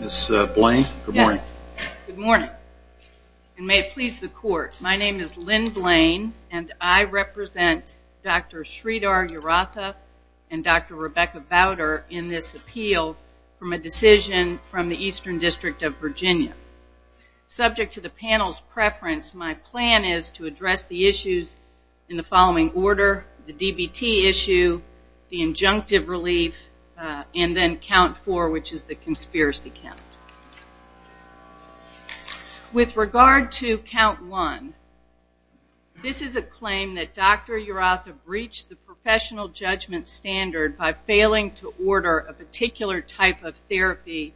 Ms. Blaine, good morning. May it please the court, my name is Lynn Blaine and I represent Dr. Sridhar Yaratha and Dr. Rebecca Bowder in this appeal from a decision from the Eastern District of Virginia. Subject to the panel's preference, my plan is to address the issues in the following order, the DBT issue, the injunctive relief, and then count four which is the conspiracy count. With regard to count one, this is a claim that Dr. Yaratha breached the professional judgment standard by failing to order a particular type of therapy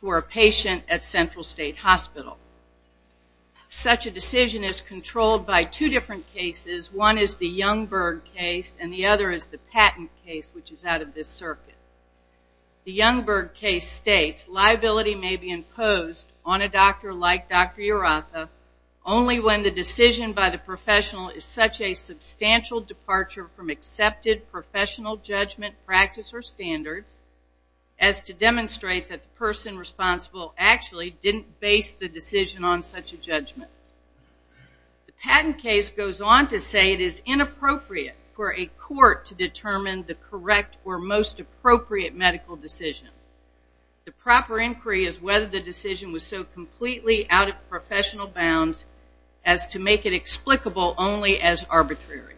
for a patient at Central State Hospital. Such a decision is controlled by two different cases. One is the Youngberg case and the other is the Patent case which is out of this circuit. The Youngberg case states liability may be imposed on a doctor like Dr. Yaratha only when the decision by the professional is such a substantial departure from accepted professional judgment practice or standards as to demonstrate that the person responsible actually didn't base the decision on such a judgment. The Patent case goes on to say it is inappropriate for a court to determine the correct or most appropriate medical decision. The proper inquiry is whether the decision was so completely out of professional bounds as to make it explicable only as arbitrary.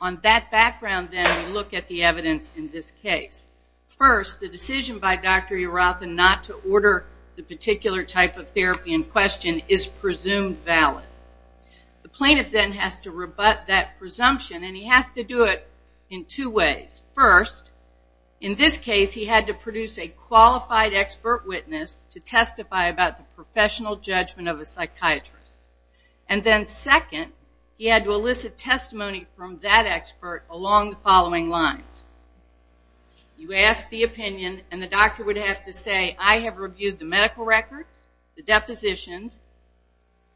On that background then we look at the evidence in this case. First, the decision by Dr. Yaratha not to order the particular type of therapy in question is presumed valid. The plaintiff then has to rebut that presumption and he has to do it in two ways. First, in this case he had to produce a qualified expert witness to testify about the professional judgment of a psychiatrist. Second, he had to elicit testimony from that expert along the following lines. You ask the opinion and the doctor would have to say I have reviewed the medical records, the depositions,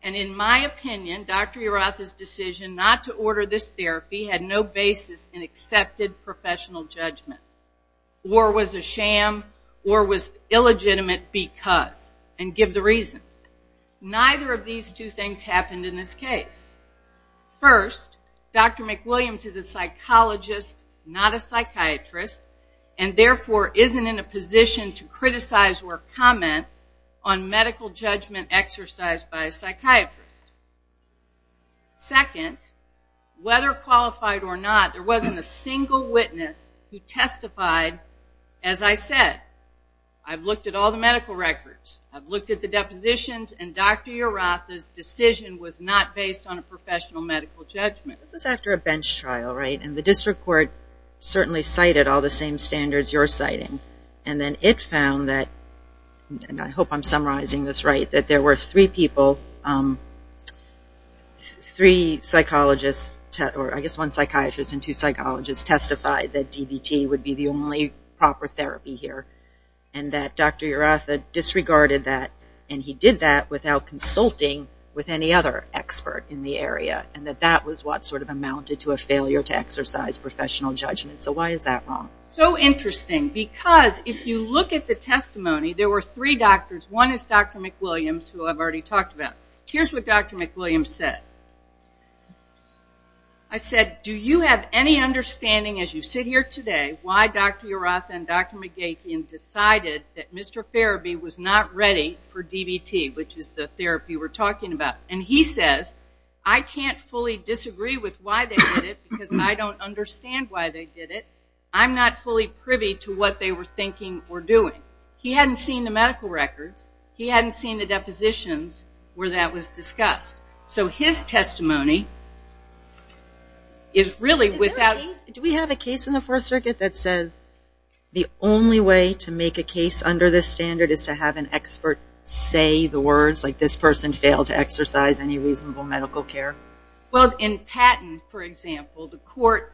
and in my opinion Dr. Yaratha's decision not to order this therapy had no basis in accepted professional judgment or was a sham or was a fraud. Neither of these two things happened in this case. First, Dr. McWilliams is a psychologist not a psychiatrist and therefore isn't in a position to criticize or comment on medical judgment exercised by a psychiatrist. Second, whether qualified or not there wasn't a single witness who testified as I said. I have looked at all the medical records. I have looked at the depositions and Dr. Yaratha's decision was not based on a professional medical judgment. This is after a bench trial and the district court cited all the same standards you are citing. It found that, and I hope I am summarizing this right, that there were three people, three psychologists, I guess one psychiatrist and two psychologists testified that DBT would be the only proper therapy here and that Dr. Yaratha disregarded that and he did that without consulting with any other expert in the area and that that was what sort of amounted to a failure to exercise professional judgment. So why is that wrong? So interesting because if you look at the testimony, there were three doctors. One is Dr. McWilliams. Here is what Dr. McWilliams said. I said, do you have any understanding as you sit here today why Dr. Yaratha and Dr. McGeachy decided that Mr. Faraby was not ready for DBT which is the therapy we are talking about? And he says, I can't fully disagree with why they did it because I don't understand why they did it. I am not fully privy to what they were thinking or doing. He hadn't seen the medical records. He hadn't seen the depositions where that was discussed. So his testimony is really without... Do we have a case in the First Circuit that says the only way to make a case under this standard is to have an expert say the words like this person failed to exercise any reasonable medical care? Well, in Patton, for example, the court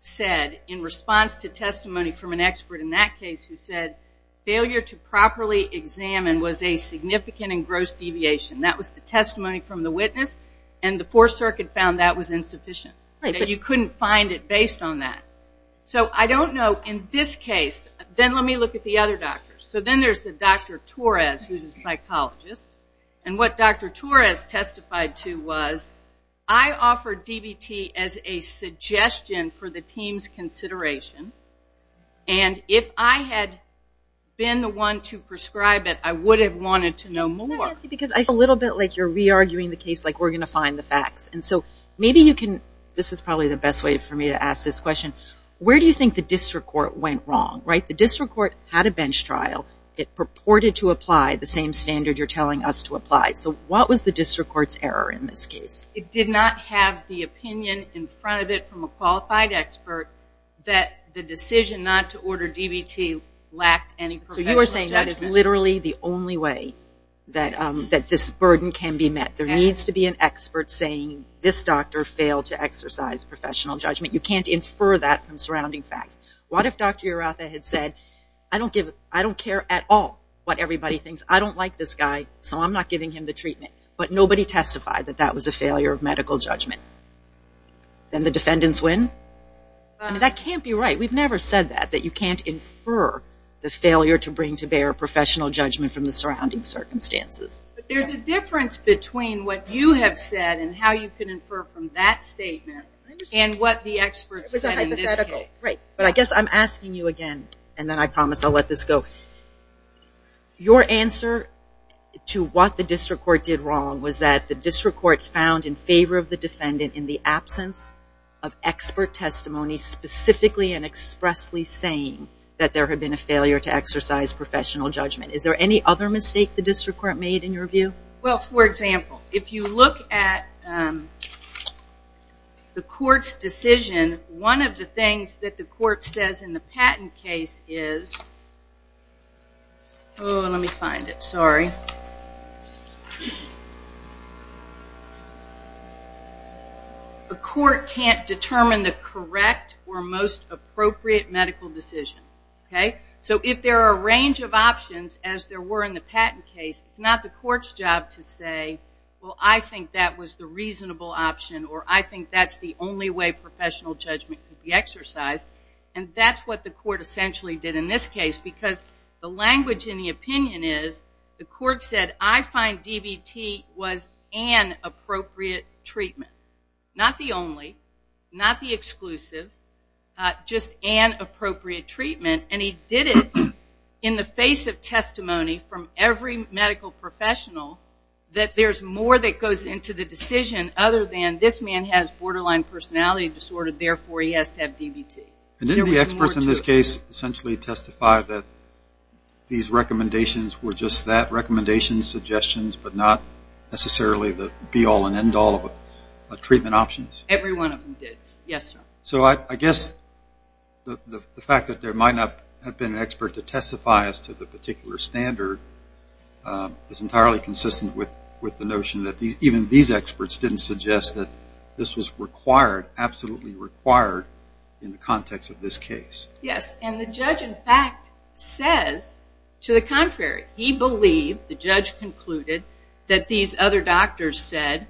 said in response to testimony from an expert in that case who said failure to properly examine was a significant and gross deviation. That was the testimony from the witness and the Fourth Circuit found that was insufficient. You couldn't find it based on that. So I don't know in this case, then let me look at the other doctors. So then there is Dr. Torres who is a psychologist. And what Dr. Torres testified to was I offered DBT as a suggestion for the team's consideration. And if I had been the one to prescribe it, I would have wanted to know more. Because I feel a little bit like you are re-arguing the case like we are going to find the facts. And so maybe you can, this is probably the best way for me to ask this question. Where do you think the district court went wrong? The district court had a bench trial. It purported to apply the same standard you are telling us to apply. So what was the district court's error in this case? It did not have the opinion in front of it from a qualified expert that the decision not to order DBT lacked any professional judgment. So you are saying that is literally the only way that this burden can be met. There needs to be an expert saying this doctor failed to exercise professional judgment. You can't infer that from surrounding facts. What if Dr. Hirata had said I don't care at all what everybody thinks. I don't like this guy so I am not giving him the treatment. But nobody testified that that was a failure of medical judgment. Then the defendants win? That can't be right. We have never said that, that you can't infer the failure to bring to bear professional judgment from the surrounding circumstances. But there is a difference between what you have said and how you can infer from that statement and what the experts said in this case. I guess I am asking you again and then I promise I will let this go. Your answer to what the district court did wrong was that the district court found in favor of the defendant in the absence of expert testimony specifically and expressly saying that there had been a failure to exercise professional judgment. Is there any other mistake the district court made in your view? For example, if you look at the court's decision, one of the things that the court says in the patent case is, the court can't determine the correct or most appropriate medical decision. So if there are a range of options as there were in the patent case, it is not the court's job to say, well, I think that was the reasonable option or I think that is the only way professional judgment could be exercised. And that is what the court essentially did in this case because the language in the opinion is, the court said, I find DBT was an appropriate treatment. Not the only, not the exclusive, just an appropriate treatment. And he did it in the face of testimony from every medical professional that there is more that goes into the decision other than this man has borderline personality disorder, therefore he has to have DBT. And didn't the experts in this case essentially testify that these recommendations were just that, recommendations, suggestions, but not necessarily the be-all and end-all of treatment options? Every one of them did. Yes, sir. So I guess the fact that there might not have been an expert to testify as to the particular standard is entirely consistent with the notion that even these experts didn't suggest that this was required, absolutely required in the context of this case. Yes, and the judge in fact says to the contrary. He believed, the judge concluded, that these other doctors said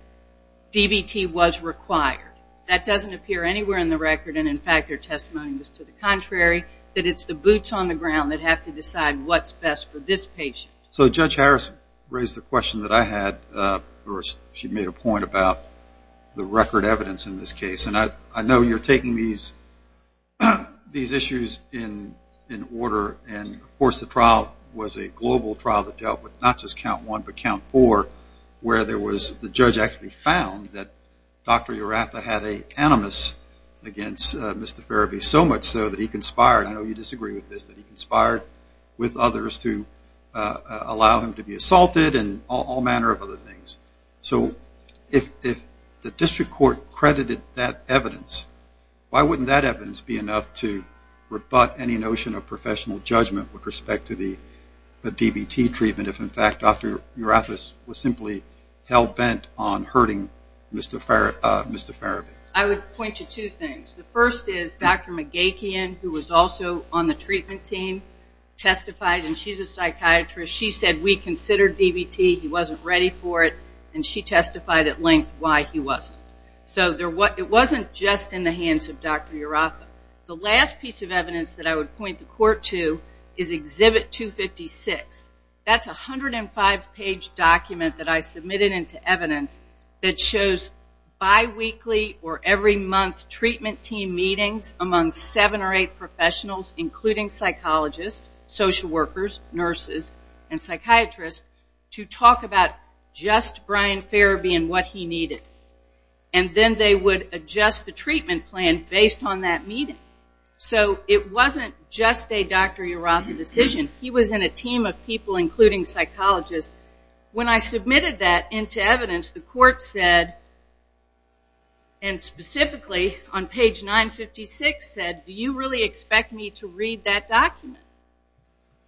DBT was required. That doesn't appear anywhere in the record and in fact their testimony was to the contrary, that it's the boots on the ground that have to decide what's best for this patient. So Judge Harris raised the question that I had, or she made a point about the record evidence in this case and I know you're taking these issues in order and of course the trial was a global trial that dealt with not just count one but count four where there was, the judge actually found that Dr. Urafa had an animus against Mr. Ferebee so much so that he conspired, I know you disagree with this, that he conspired with others to allow him to be assaulted and all manner of other things. So if the district court credited that evidence, why wouldn't that evidence be enough to rebut any notion of professional judgment with respect to the DBT treatment if in fact Dr. Urafa was simply hell bent on hurting Mr. Ferebee? I would point to two things. The first is Dr. McGachian who was also on the treatment team testified and she's a psychiatrist. She said we considered DBT, he wasn't ready for it and she testified at length why he wasn't. So it wasn't just in the hands of Dr. Urafa. The last piece of evidence that I would point the court to is exhibit 256. That's 105 page document that I submitted into evidence that shows biweekly or every month treatment team meetings among seven or eight professionals including psychologists, social workers, nurses and psychiatrists to talk about just Brian Ferebee and what he needed and then they would adjust the treatment plan based on that meeting. So it wasn't just a Dr. Urafa decision. He was in a team of people including psychologists. When I submitted that into evidence, the court said and specifically on page 956 said, do you really expect me to read that document?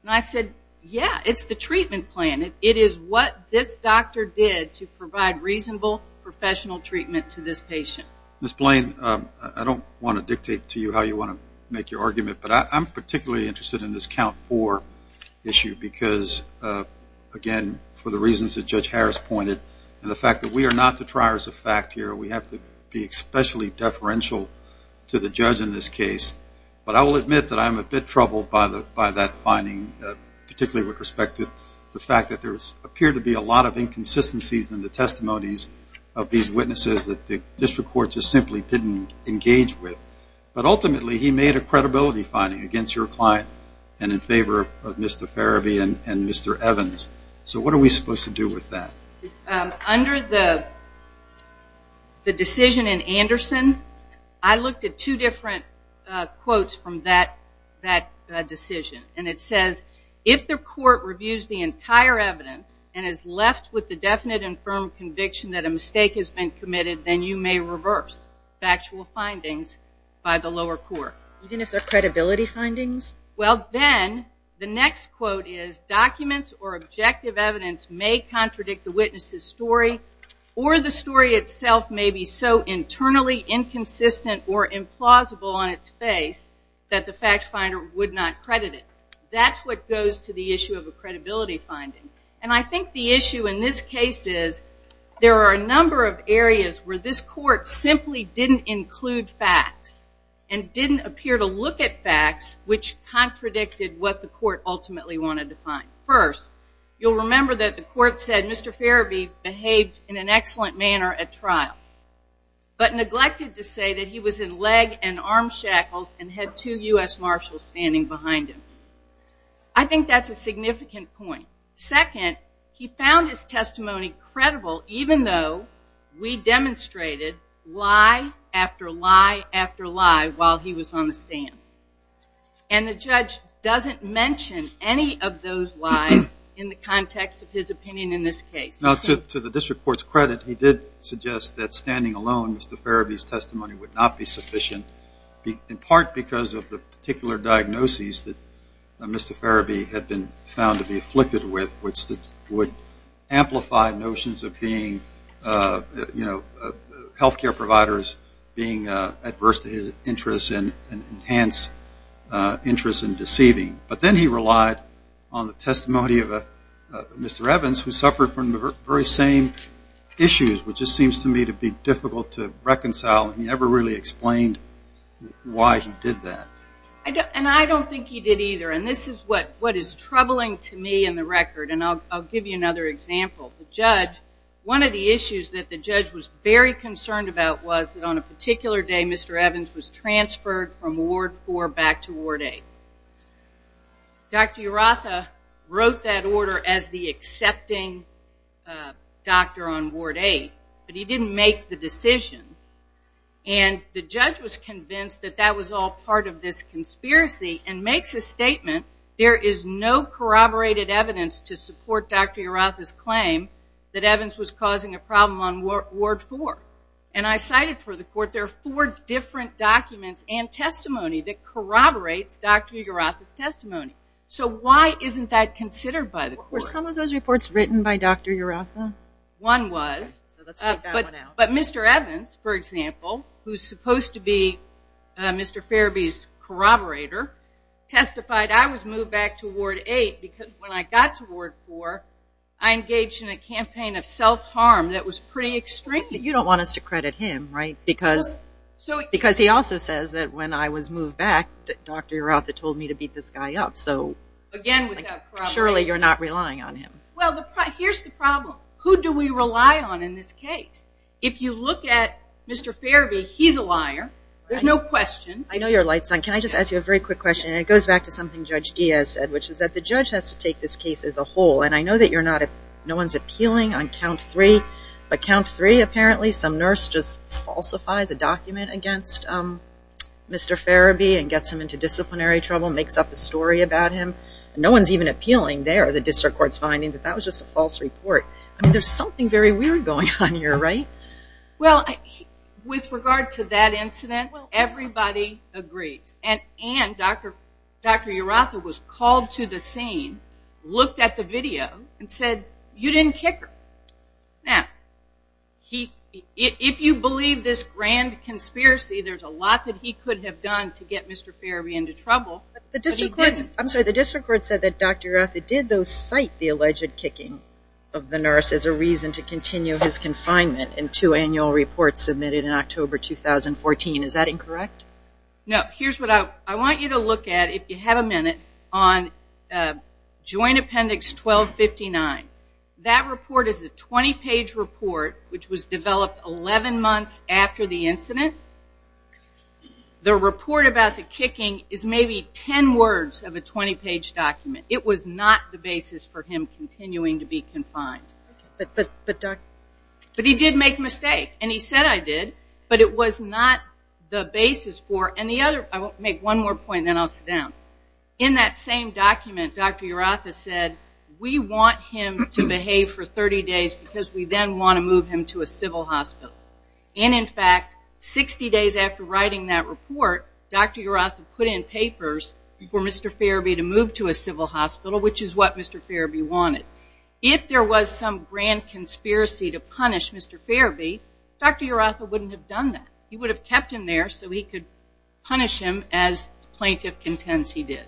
And I said, yeah, it's the treatment plan. It is what this doctor did to provide reasonable professional treatment to this patient. Ms. Blaine, I don't want to dictate to you how you want to make your argument, but I'm particularly interested in this count four issue because, again, for the reasons that Judge Harris pointed and the fact that we are not the triers of fact here, we have to be especially deferential to the judge in this case. But I will admit that I'm a bit by that finding particularly with respect to the fact that there appeared to be a lot of inconsistencies in the testimonies of these witnesses that the district court just simply didn't engage with. But ultimately he made a credibility finding against your client and in favor of Mr. Ferebee and Mr. Evans. So what are we supposed to do with that? Under the decision in Anderson, I looked at two different quotes from that decision. And it says, if the court reviews the entire evidence and is left with the definite and firm conviction that a mistake has been committed, then you may reverse factual findings by the lower court. Even if they're credibility findings? Well, then the next quote is, documents or objective evidence may contradict the witness's story or the story itself may be so internally inconsistent or implausible on its face that the fact finder would not credit it. That's what goes to the issue of a credibility finding. And I think the issue in this case is there are a number of areas where this court simply didn't include facts and didn't appear to look at facts which contradicted what the court ultimately wanted to find. First, you'll remember that the court said Mr. Ferebee behaved in an excellent manner at trial, but neglected to say that he was in leg and arm shackles and had two U.S. Marshals standing behind him. I think that's a significant point. Second, he found his testimony credible even though we demonstrated lie after lie after lie while he was on the stand. And the judge doesn't mention any of those lies in the context of his opinion in this case. To the district court's credit, he did suggest that standing alone, Mr. Ferebee's testimony would not be sufficient, in part because of the particular diagnoses that Mr. Ferebee had been found to be afflicted with, which would amplify notions of being, you know, health care providers being adverse to his interests and enhance interest in deceiving. But then he relied on the testimony of Mr. Evans, who suffered from the very same issues, which just seems to me to be difficult to reconcile. He never really explained why he did that. And I don't think he did either. And this is what is troubling to me in the record. And I'll give you another example. The judge, one of the issues that the judge was very concerned about was that on a particular day, Mr. Evans was transferred from Ward 4 back to Ward 8. Dr. Urratha wrote that order as the accepting doctor on Ward 8, but he didn't make the decision. And the judge was convinced that that was all part of this conspiracy and makes a statement, there is no corroborated evidence to support Dr. Urratha's claim that Evans was causing a problem on Ward 4. And I cited for the court, there are four different documents and testimony that corroborates Dr. Urratha's testimony. So why isn't that considered by the court? Were some of those reports written by Dr. Urratha? One was. But Mr. Evans, for example, who's supposed to be Mr. Farabee's corroborator, testified I was moved back to Ward 8 because when I got to Ward 4, I engaged in a campaign of self-harm that was pretty extreme. You don't want us to credit him, right? Because he also says that when I was moved back, Dr. Urratha told me to beat this guy up. So, surely you're not relying on him. Well, here's the problem. Who do we rely on in this case? If you look at Mr. Farabee, he's a liar. There's no question. I know you're lights on. Can I just ask you a very quick question? And it goes back to something Judge Diaz said, which is that the judge has to take this case as a whole. And I know that you're not, no one's appealing on count three. But count three, apparently some nurse just falsifies a document against Mr. Farabee and gets him into disciplinary trouble, makes up a story about him. No one's even appealing there. The district court's finding that that was just a false report. I mean, there's something very weird going on here, right? Well, with regard to that incident, everybody agrees. And Dr. Urratha was called to the scene, looked at the video, and said, you didn't kick him. Now, if you believe this grand conspiracy, there's a lot that he could have done to get Mr. Farabee into trouble. The district court said that Dr. Urratha did, though, cite the alleged kicking of the nurse as a reason to continue his confinement in two annual reports submitted in October 2014. Is that incorrect? No. Here's what I want you to look at, if you have a minute, on Joint Appendix 1259. That report is a 20-page report, which was developed 11 months after the incident. The report about the kicking is maybe 10 words of a 20-page document. It was not the basis for him continuing to be confined. But, Dr. But he did make a mistake. And he said, I did. But it was not the basis for, and the other, I'll make one more point, and then I'll sit down. In that same document, Dr. Urratha said, we want him to behave for 30 days because we then want to move him to a doctor. Dr. Urratha put in papers for Mr. Farabee to move to a civil hospital, which is what Mr. Farabee wanted. If there was some grand conspiracy to punish Mr. Farabee, Dr. Urratha wouldn't have done that. He would have kept him there so he could punish him as the plaintiff contends he did.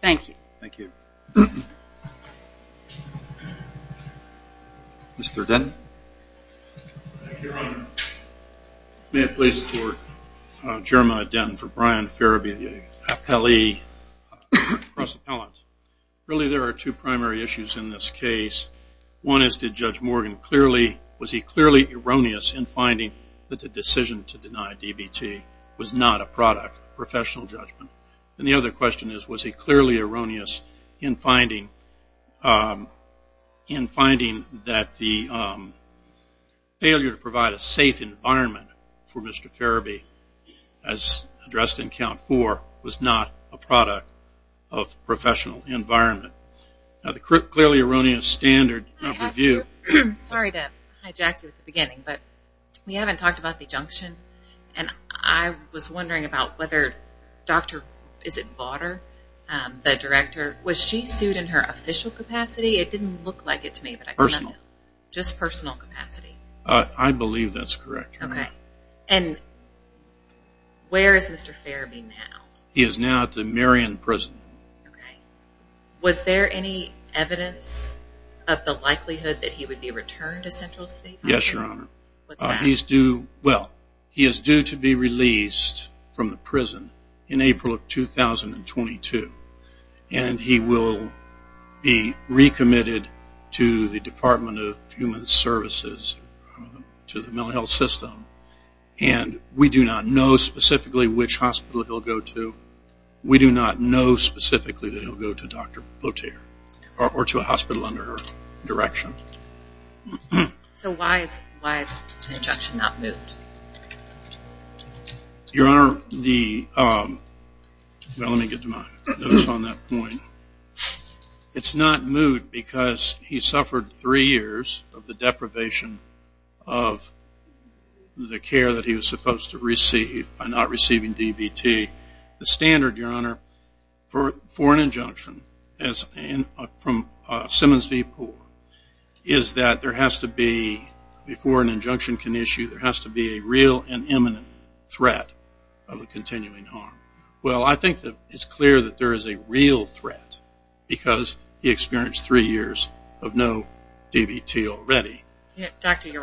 Thank you. Thank you. Mr. Denton. Thank you, Your Honor. May it please the Court. Jeremiah Denton for Brian Farabee, the appellee cross-appellant. Really, there are two primary issues in this case. One is, did Judge Morgan clearly, was he clearly erroneous in finding that the decision to deny DBT was not a product of professional judgment? And the other question is, was he clearly erroneous in finding, in failure to provide a safe environment for Mr. Farabee, as addressed in count four, was not a product of professional environment? Now, the clearly erroneous standard of review Sorry to hijack you at the beginning, but we haven't talked about the injunction, and I was wondering about whether Dr., is it Vauder, the director, was she sued in her official capacity? It didn't look like it to me, but I can let them know. Personal. Just personal capacity? I believe that's correct. Okay. And where is Mr. Farabee now? He is now at the Marion Prison. Okay. Was there any evidence of the likelihood that he would be returned to Central State? Yes, Your Honor. What's that? He's due, well, he is due to be released from the prison in April of 2022, and he will be recommitted to the Department of Human Services, to the mental health system, and we do not know specifically which hospital he'll go to. We do not know specifically that he'll go to Dr. Vauder, or to a hospital under Dr. Vauder direction. So why is the injunction not moot? Your Honor, the, well, let me get to my notes on that point. It's not moot because he suffered three years of the deprivation of the care that he was supposed to receive by not receiving DBT. The standard, Your Honor, for an injunction from Simmons v. Poore is that there has to be, before an injunction can issue, there has to be a real and imminent threat of a continuing harm. Well, I think that it's clear that there is a real threat because he experienced three years of no DBT already. Dr. Vauder,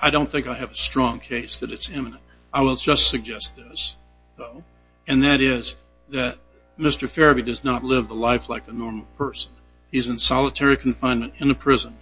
I don't think I have a strong case that it's imminent. I will just suggest this, though, and that is that Mr. Fairby does not live the life like a normal person. He's in solitary confinement in a prison.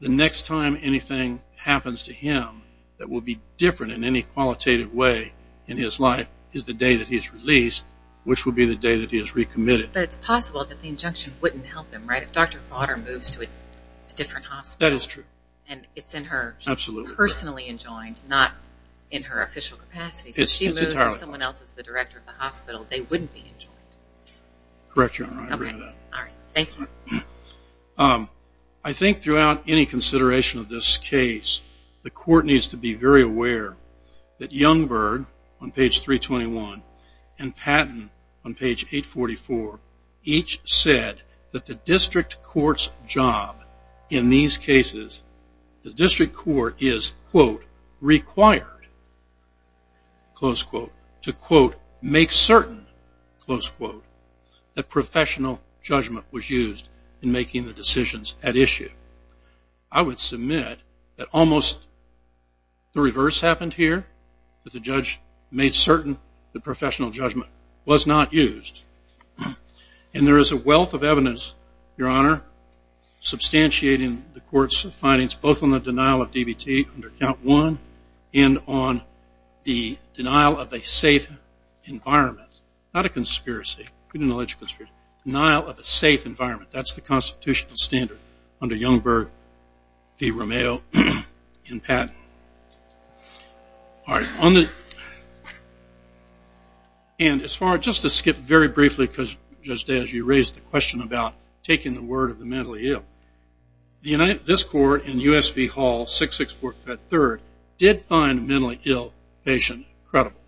The next time anything happens to him that will be different in any qualitative way in his life is the day that he's released, which will be the day that he is recommitted. But it's possible that the injunction wouldn't help him, right? If Dr. Vauder moves to a different hospital and it's in her, she's personally enjoined, not in her official capacity. If she moves and someone else is the director of the hospital, they wouldn't be enjoined. Correct, Your Honor. I agree with that. All right. Thank you. I think throughout any consideration of this case, the court needs to be very aware that Youngberg on page 321 and Patton on page 844 each said that the district court's job in these cases, the district court is, quote, required, close quote, to, quote, make certain, close quote, that professional judgment was The reverse happened here. The judge made certain that professional judgment was not used. And there is a wealth of evidence, Your Honor, substantiating the court's findings both on the denial of DBT under count one and on the denial of a safe environment. Not a conspiracy. Denial of a safe environment. That's the constitutional standard under Youngberg v. Patton. All right. And as far as, just to skip very briefly because, Judge Day, as you raised the question about taking the word of the mentally ill, this court in U.S.V. Hall 664-3 did find a mentally ill patient credible.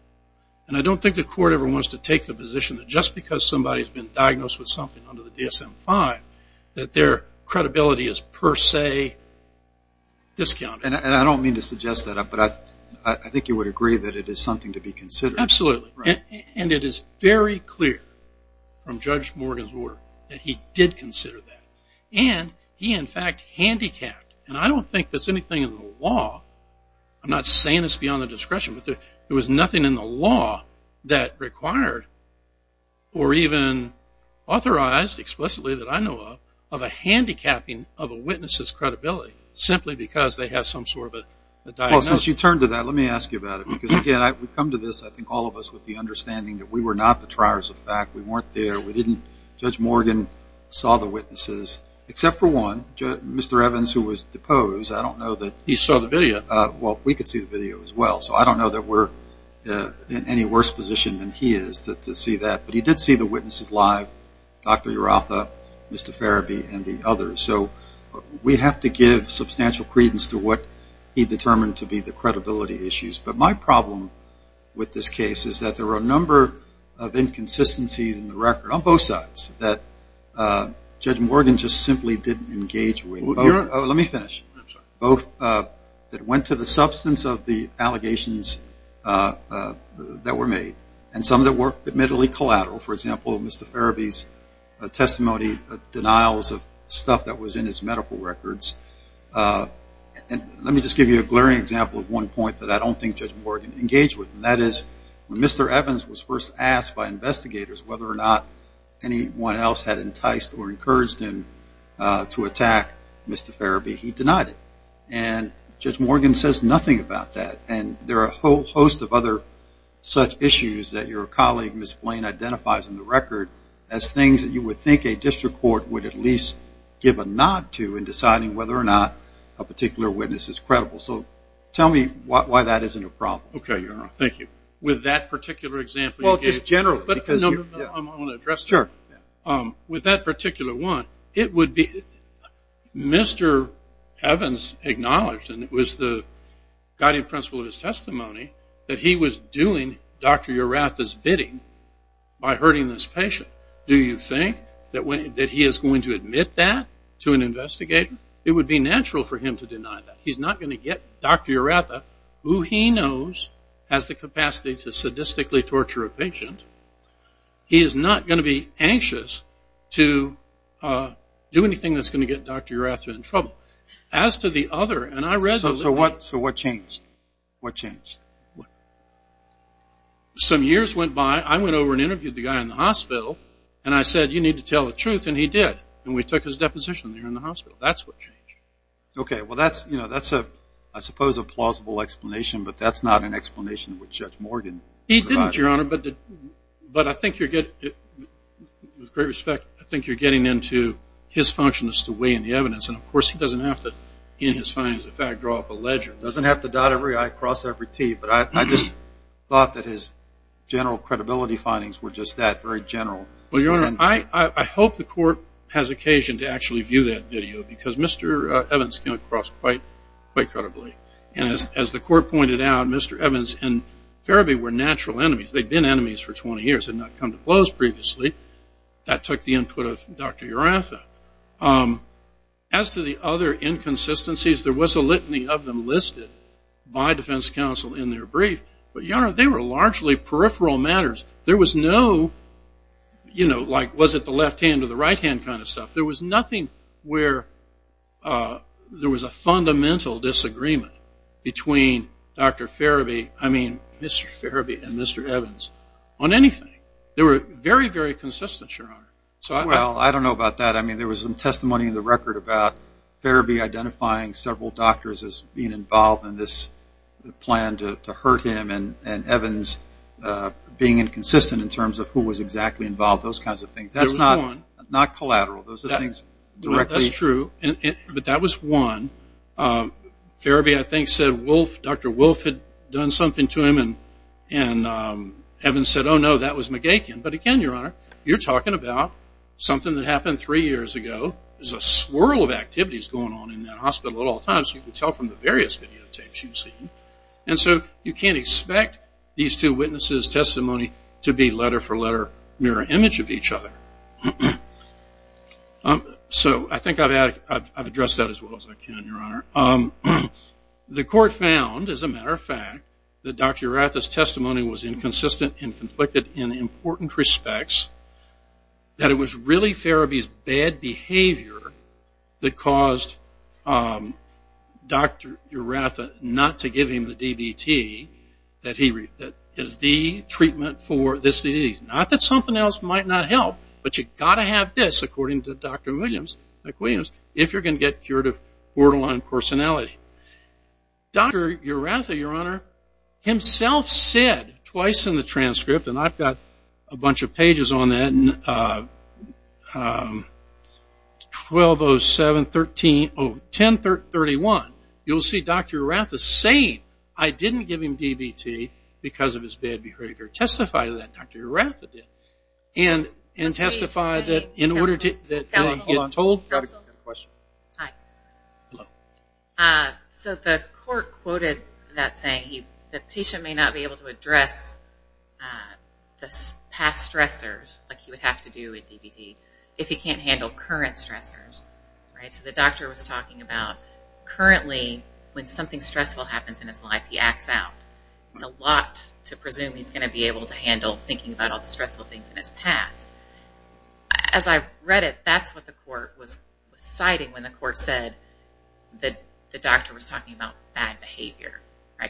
And I don't think the court ever wants to take the position that just because somebody's been diagnosed with something under the DSM-5 that their credibility is per se discounted. And I don't mean to suggest that, but I think you would agree that it is something to be considered. Absolutely. And it is very clear from Judge Morgan's work that he did consider that. And he, in fact, handicapped. And I don't think there's anything in the law, I'm not saying it's beyond the discretion, but there was nothing in the law that required or even authorized explicitly that I know of, of a handicapping of a witness's credibility simply because they have some sort of a diagnosis. Well, since you turned to that, let me ask you about it. Because, again, we've come to this, I think all of us, with the understanding that we were not the triers of the fact. We weren't there. We didn't, Judge Morgan saw the witnesses, except for one, Mr. Evans, who was deposed. I don't know that. He saw the video. Well, we could see the video as well. So I don't know that we're in any worse position than he is to see that. But he did see the witnesses live, Dr. Evans and others. So we have to give substantial credence to what he determined to be the credibility issues. But my problem with this case is that there are a number of inconsistencies in the record on both sides that Judge Morgan just simply didn't engage with. Let me finish. Both that went to the substance of the allegations that were made and some that were admittedly collateral. For example, Mr. Farabi's testimony, denials of stuff that was in his medical records. Let me just give you a glaring example of one point that I don't think Judge Morgan engaged with. And that is when Mr. Evans was first asked by investigators whether or not anyone else had enticed or encouraged him to attack Mr. Farabi, he denied it. And Judge Morgan says nothing about that. And there are a whole host of other such issues that your colleague, Ms. Blaine, identifies in the record as things that you would think a district court would at least give a nod to in deciding whether or not a particular witness is credible. So tell me why that isn't a problem. Okay, Your Honor. Thank you. With that particular example? Well, just generally. No, no, no. I want to address that. Sure. With that particular one, it would be Mr. Evans acknowledged, and it was the guiding principle of his testimony, that he was doing Dr. Urratha's bidding by hurting this patient. Do you think that he is going to admit that to an investigator? It would be natural for him to deny that. He's not going to get Dr. Urratha, who he knows has the capacity to sadistically torture a patient. He is not going to be anxious to do anything that's going to get Dr. Urratha in trouble. As to the other, and I read the report, it changed. What changed? Some years went by. I went over and interviewed the guy in the hospital, and I said, you need to tell the truth, and he did. And we took his deposition there in the hospital. That's what changed. Okay. Well, that's, you know, that's a, I suppose, a plausible explanation, but that's not an explanation which Judge Morgan provided. He didn't, Your Honor, but I think you're getting into his function as to weigh in the evidence, and, of course, he doesn't have to, in his findings, in fact, draw up a ledger. He doesn't have to dot every I, cross every T, but I just thought that his general credibility findings were just that, very general. Well, Your Honor, I hope the court has occasion to actually view that video, because Mr. Evans came across quite, quite credibly, and as the court pointed out, Mr. Evans and As to the other inconsistencies, there was a litany of them listed by defense counsel in their brief, but, Your Honor, they were largely peripheral matters. There was no, you know, like, was it the left hand or the right hand kind of stuff. There was nothing where there was a fundamental disagreement between Dr. Farabee, I mean, Mr. Farabee and Mr. Evans on anything. They were very, very consistent, Your Honor. Well, I don't know about that. I mean, there was some testimony in the record about Farabee identifying several doctors as being involved in this plan to hurt him and Evans being inconsistent in terms of who was exactly involved, those kinds of things. There was one. That's not collateral. Those are things directly. That's true, but that was one. Farabee, I think, said Wolfe, Dr. Wolfe had done something to him, and Evans said, oh, no, that was But again, Your Honor, you're talking about something that happened three years ago. There's a swirl of activities going on in that hospital at all times. You can tell from the various videotapes you've seen, and so you can't expect these two witnesses' testimony to be letter for letter mirror image of each other. So I think I've addressed that as well as I can, Your Honor. The court found, as a matter of fact, that Dr. Uretha's testimony was inconsistent and conflicted in important respects, that it was really Farabee's bad behavior that caused Dr. Uretha not to give him the DBT that is the treatment for this disease. Not that something else might not help, but you've got to have this, according to Dr. Williams, if you're going to get cured of borderline personality. Dr. Uretha, Your Honor, himself said twice in the transcript, and I've got a bunch of pages on that, 1207, 1031. You'll see Dr. Uretha saying, I didn't give him DBT because of his bad behavior. Testify to that, Dr. Uretha did, and testify that in order to So the court quoted that saying the patient may not be able to address the past stressors like he would have to do with DBT if he can't handle current stressors. So the doctor was talking about currently when something stressful happens in his life, he acts out. It's a lot to presume he's going to be able to handle thinking about all the stressful things in his past. As I've read it, that's what the court was citing when the court said that the doctor was talking about bad behavior.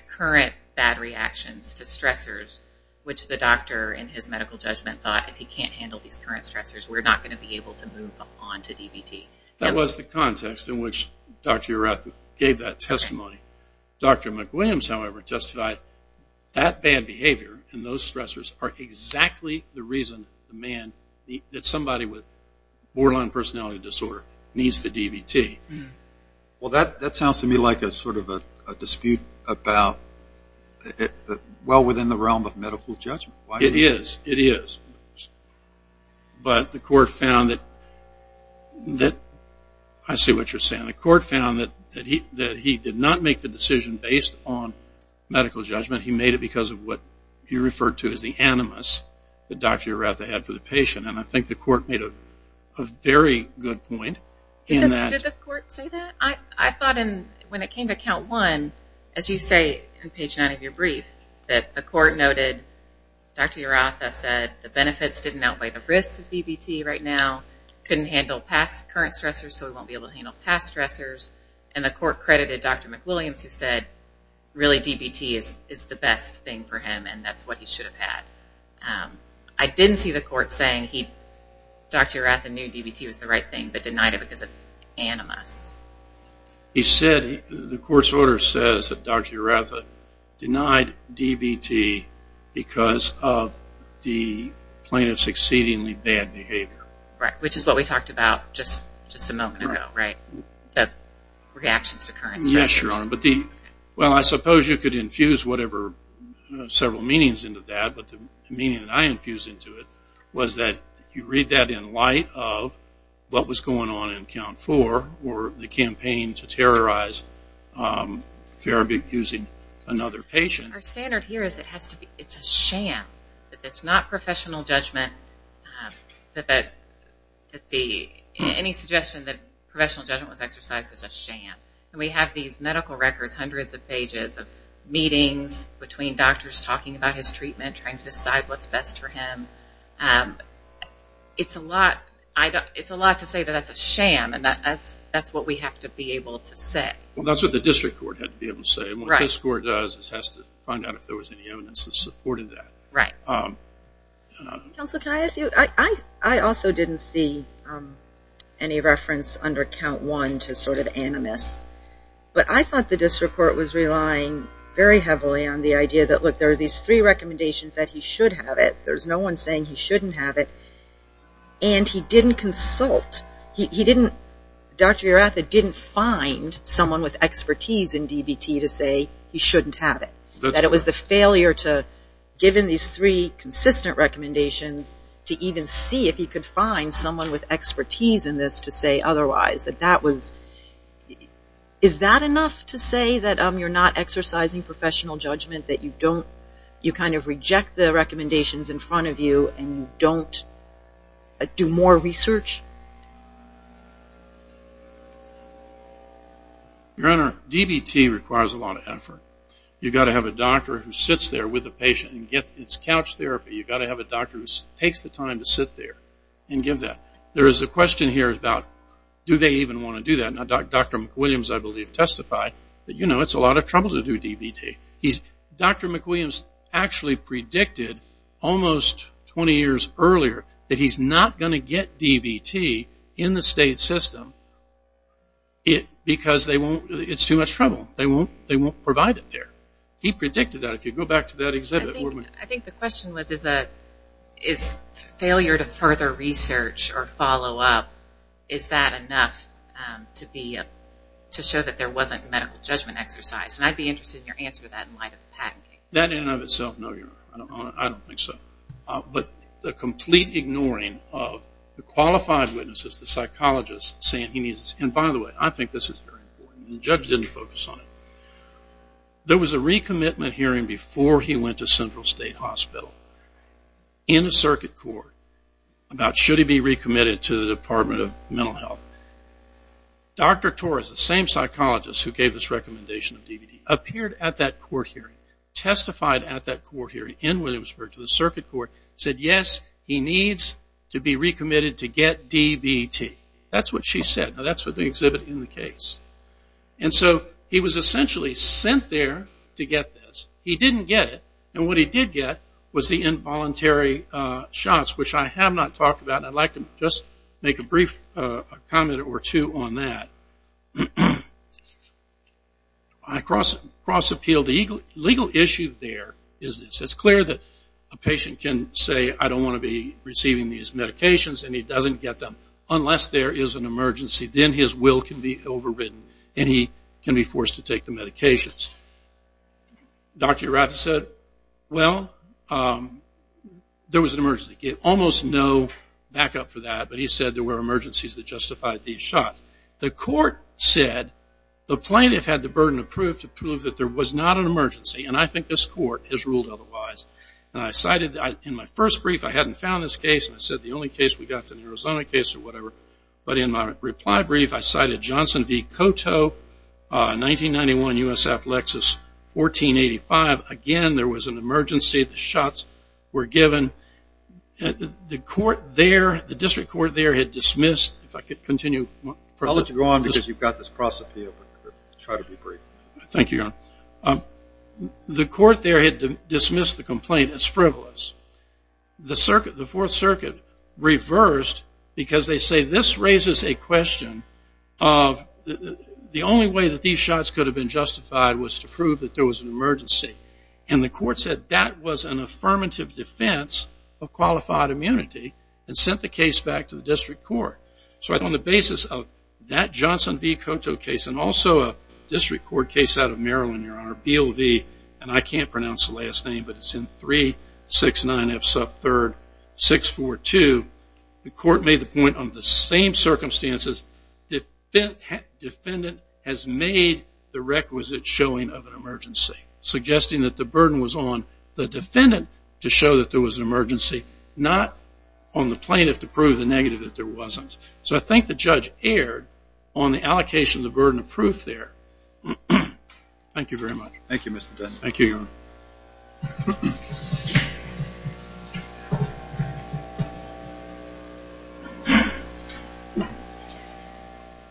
Current bad reactions to stressors, which the doctor in his medical judgment thought if he can't handle these current stressors, we're not going to be able to move on to DBT. That was the context in which Dr. Uretha gave that testimony. Dr. McWilliams, however, testified that bad behavior and those stressors are exactly the reason that somebody with borderline personality disorder needs the DBT. Well, that sounds to me like a dispute well within the realm of medical judgment. It is. But the court found that he did not make the decision based on medical judgment. He made it because of what he referred to as the animus that Dr. Uretha had for the patient. I think the court made a very good point. Did the court say that? I thought when it came to count one, as you say in page nine of your brief, that the court noted Dr. Uretha said the benefits didn't outweigh the risks of DBT right now, couldn't handle past current stressors so he won't be able to handle past stressors, and the court credited Dr. McWilliams who said really DBT is the best thing for him and that's what he should have had. I didn't see the court saying Dr. Uretha knew DBT was the right thing but denied it because of animus. He said, the court's order says that Dr. Uretha denied DBT because of the plaintiff's exceedingly bad behavior. Right, which is what we talked about just a moment ago, right? The reactions to current stressors. I suppose you could infuse several meanings into that but the meaning I infused into it was that you read that in light of what was going on in count four or the campaign to terrorize therapy using another patient. Our standard here is it's a sham. It's not professional judgment. Any suggestion that professional judgment was exercised is a sham. We have these medical records, hundreds of pages of meetings between doctors talking about his treatment, trying to decide what's best for him. It's a lot to say that that's a sham and that's what we have to be able to say. Well that's what the district court had to be able to say and what this court does is has to find out if there was any evidence that supported that. Counsel, can I ask you, I also didn't see any reference under count one to sort of animus. But I thought the district court was relying very heavily on the idea that look, there are these three recommendations that he should have it. There's no one saying he shouldn't have it and he didn't consult. He didn't, Dr. Uretha didn't find someone with expertise in DBT to say he shouldn't have it. That it was the failure to, given these three consistent recommendations, to even see if he could find someone with expertise in this to say otherwise. That that was, is that enough to say that you're not exercising professional judgment? That you don't, you kind of reject the recommendations in front of you and you don't do more research? Your Honor, DBT requires a lot of effort. You've got to have a doctor who sits there with a patient and gets, it's couch therapy. You've got to have a doctor who takes the time to sit there and give that. There is a question here about do they even want to do that? Now Dr. McWilliams I believe testified that you know it's a lot of trouble to do DBT. He's, Dr. McWilliams actually predicted almost 20 years earlier that he's not going to get DBT in the state system. It, because they won't, it's too much trouble. They won't, they won't provide it there. He predicted that. If you go back to that exhibit. I think the question was is a, is failure to further research or follow up, is that enough to be, to show that there wasn't medical judgment exercise? And I'd be interested in your answer to that in light of the patent case. That in and of itself, no Your Honor, I don't think so. But the complete ignoring of the qualified witnesses, the psychologists saying he needs, and by the way I think this is very important and the judge didn't focus on it. There was a recommitment hearing before he went to Central State Hospital in the circuit court about should he be recommitted to the Department of Mental Health. Dr. Torres, the same psychologist who gave this recommendation of DBT, appeared at that court hearing, testified at that court hearing in Williamsburg to the circuit court, said yes, he needs to be recommitted to get DBT. That's what she said. Now that's what they exhibit in the case. And so he was essentially sent there to get this. He didn't get it. And what he did get was the involuntary shots, which I have not talked about. And I'd like to just make a brief comment or two on that. I cross appeal. The legal issue there is it's clear that a patient can say I don't want to be receiving these medications and he doesn't get them unless there is an emergency. Then his will can be overridden and he can be forced to take the medications. Dr. Urata said, well, there was an emergency. He gave almost no backup for that, but he said there were emergencies that justified these shots. The court said the plaintiff had the burden of proof to prove that there was not an emergency, and I think this court has ruled otherwise. And I cited in my first brief, I hadn't found this case, and I said the only case we got is an Arizona case or whatever. But in my reply brief, I cited Johnson v. Coteau, 1991, U.S. Appalachia, 1485. Again, there was an emergency. The shots were given. The court there, the district court there had dismissed, if I could continue. I'll let you go on because you've got this cross appeal. Try to be brief. Thank you, Your Honor. The court there had dismissed the complaint as frivolous. The Fourth Circuit reversed because they say this raises a question of the only way that these shots could have been justified was to prove that there was an emergency. And the court said that was an affirmative defense of qualified immunity and sent the case back to the district court. So on the basis of that Johnson v. Coteau case and also a district court case out of Maryland, Your Honor, BLV, and I can't pronounce the last name, but it's in 369F sub 3rd 642, the court made the point on the same circumstances, defendant has made the requisite showing of an emergency, suggesting that the burden was on the defendant to show that there was an emergency, not on the plaintiff to prove the negative that there wasn't. So I think the judge erred on the allocation of the burden of proof there. Thank you very much. Thank you, Mr. Dunn. Thank you, Your Honor.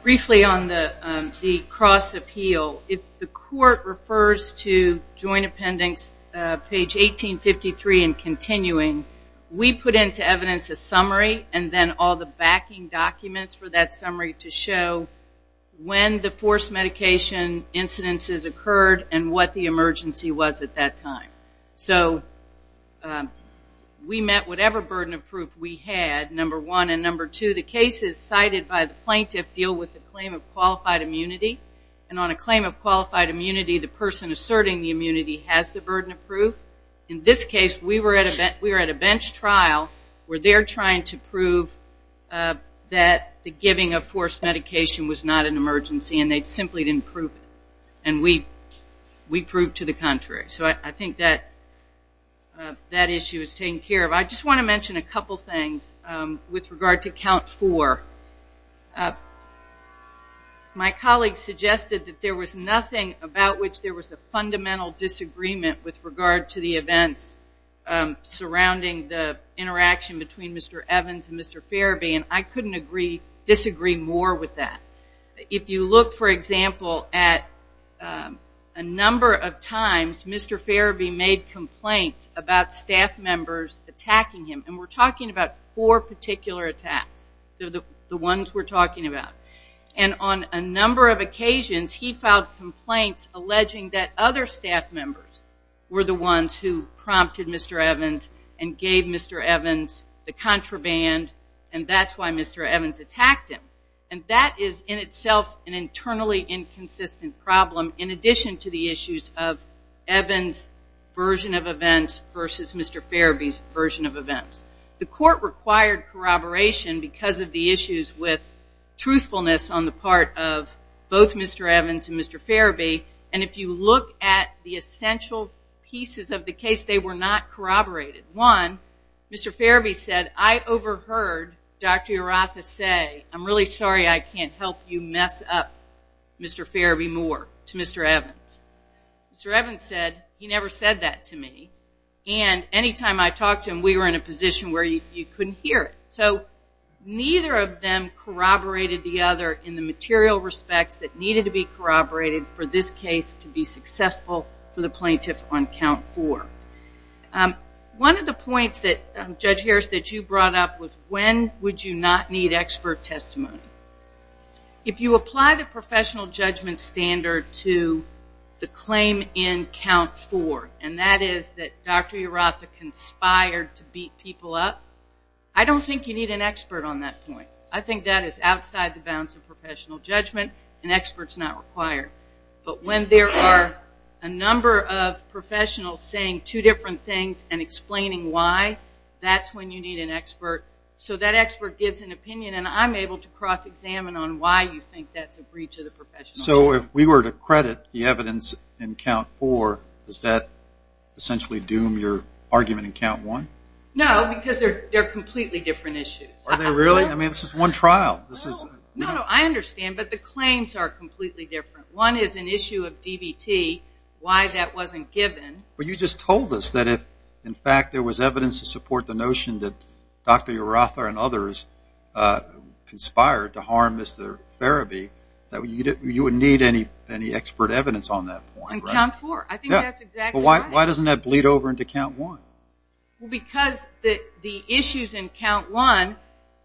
Briefly on the cross appeal, if the court refers to Joint Appendix page 1853 and continuing, we put into evidence a summary and then all the backing documents for that summary to show when the forced medication incidences occurred and what the emergency was at that time. So we met whatever burden of proof we had, number one. And number two, the cases cited by the plaintiff deal with the claim of qualified immunity. And on a claim of qualified immunity, the person asserting the immunity has the burden of proof. In this case, we were at a bench trial where they're trying to prove that the giving of forced medication was not an emergency, and they simply didn't prove it. And we proved to the contrary. So I think that issue is taken care of. I just want to mention a couple things with regard to Count 4. My colleague suggested that there was nothing about which there was a fundamental disagreement with regard to the events surrounding the interaction between Mr. Evans and Mr. Farabee, and I couldn't disagree more with that. If you look, for example, at a number of times Mr. Farabee made complaints about staff members attacking him, and we're talking about four particular attacks, the ones we're talking about. And on a number of occasions, he filed complaints alleging that other staff members were the ones who prompted Mr. Evans and gave Mr. Evans the contraband, and that's why Mr. Evans attacked him. And that is in itself an internally inconsistent problem, in addition to the issues of Evans' version of events versus Mr. Farabee's version of events. The court required corroboration because of the issues with truthfulness on the part of both Mr. Evans and Mr. Farabee. And if you look at the essential pieces of the case, they were not corroborated. One, Mr. Farabee said, I overheard Dr. Urratha say, I'm really sorry I can't help you mess up Mr. Farabee more, to Mr. Evans. Mr. Evans said, he never said that to me. And any time I talked to him, we were in a position where you couldn't hear it. So neither of them corroborated the other in the material respects that needed to be corroborated for this case to be successful for the plaintiff on count four. One of the points that, Judge Harris, that you brought up was when would you not need expert testimony? If you apply the professional judgment standard to the claim in count four, and that is that Dr. Urratha conspired to beat people up, I don't think you need an expert on that point. I think that is outside the bounds of professional judgment, and expert is not required. But when there are a number of professionals saying two different things and explaining why, that's when you need an expert. So that expert gives an opinion, and I'm able to cross-examine on why you think that's a breach of the professional judgment. So if we were to credit the evidence in count four, does that essentially doom your argument in count one? No, because they're completely different issues. Are they really? I mean, this is one trial. No, I understand, but the claims are completely different. One is an issue of DBT, why that wasn't given. But you just told us that if, in fact, there was evidence to support the notion that Dr. Urratha and others conspired to harm Mr. Farabi, that you would need any expert evidence on that point. On count four, I think that's exactly right. Yeah, but why doesn't that bleed over into count one? Well, because the issues in count one,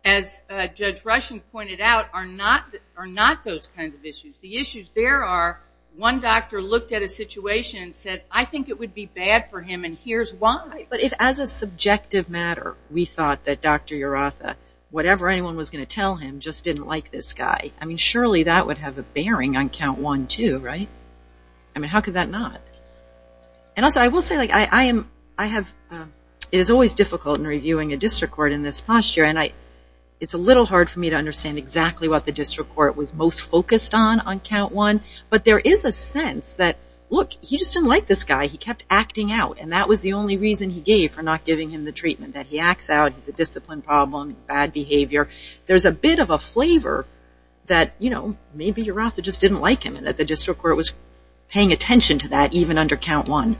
as Judge Rushing pointed out, are not those kinds of issues. The issues there are one doctor looked at a situation and said, I think it would be bad for him, and here's why. But as a subjective matter, we thought that Dr. Urratha, whatever anyone was going to tell him, just didn't like this guy. I mean, surely that would have a bearing on count one, too, right? I mean, how could that not? And also, I will say, it is always difficult in reviewing a district court in this posture, and it's a little hard for me to understand exactly what the district court was most focused on on count one, but there is a sense that, look, he just didn't like this guy. He kept acting out, and that was the only reason he gave for not giving him the treatment, that he acts out, he's a discipline problem, bad behavior. There's a bit of a flavor that, you know, maybe Urratha just didn't like him and that the district court was paying attention to that, even under count one.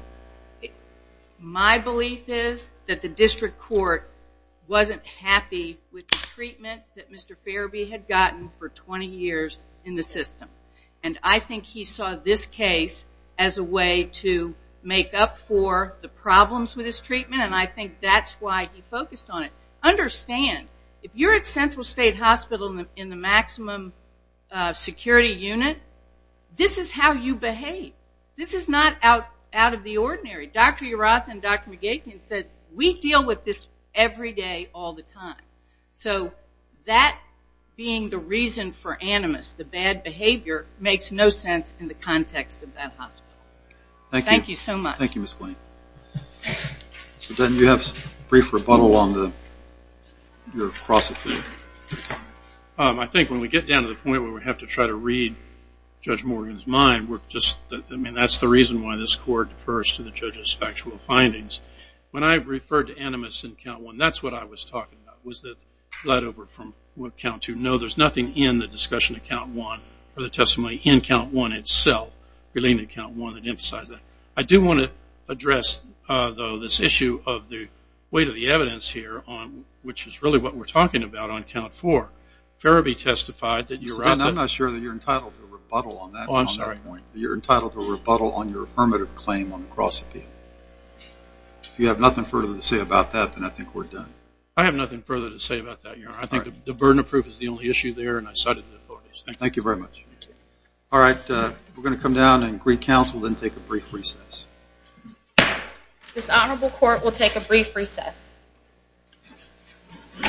My belief is that the district court wasn't happy with the treatment that Mr. Fairby had gotten for 20 years in the system, and I think he saw this case as a way to make up for the problems with his treatment, and I think that's why he focused on it. Understand, if you're at Central State Hospital in the maximum security unit, this is how you behave. This is not out of the ordinary. Dr. Urratha and Dr. McGakin said, we deal with this every day all the time. So that being the reason for animus, the bad behavior, makes no sense in the context of that hospital. Thank you so much. Thank you, Ms. Quain. So, Den, do you have a brief rebuttal on your cross opinion? I think when we get down to the point where we have to try to read Judge Morgan's mind, I mean, that's the reason why this court refers to the judge's factual findings. When I referred to animus in count one, that's what I was talking about, was the let over from count two. No, there's nothing in the discussion of count one for the testimony in count one itself, really in count one that emphasizes that. I do want to address, though, this issue of the weight of the evidence here, which is really what we're talking about on count four. Farabee testified that you're out there. I'm not sure that you're entitled to a rebuttal on that point. Oh, I'm sorry. You're entitled to a rebuttal on your affirmative claim on the cross opinion. If you have nothing further to say about that, then I think we're done. I have nothing further to say about that, Your Honor. I think the burden of proof is the only issue there, and I cited the authorities. Thank you. Thank you very much. All right. We're going to come down and recounsel, then take a brief recess. This honorable court will take a brief recess.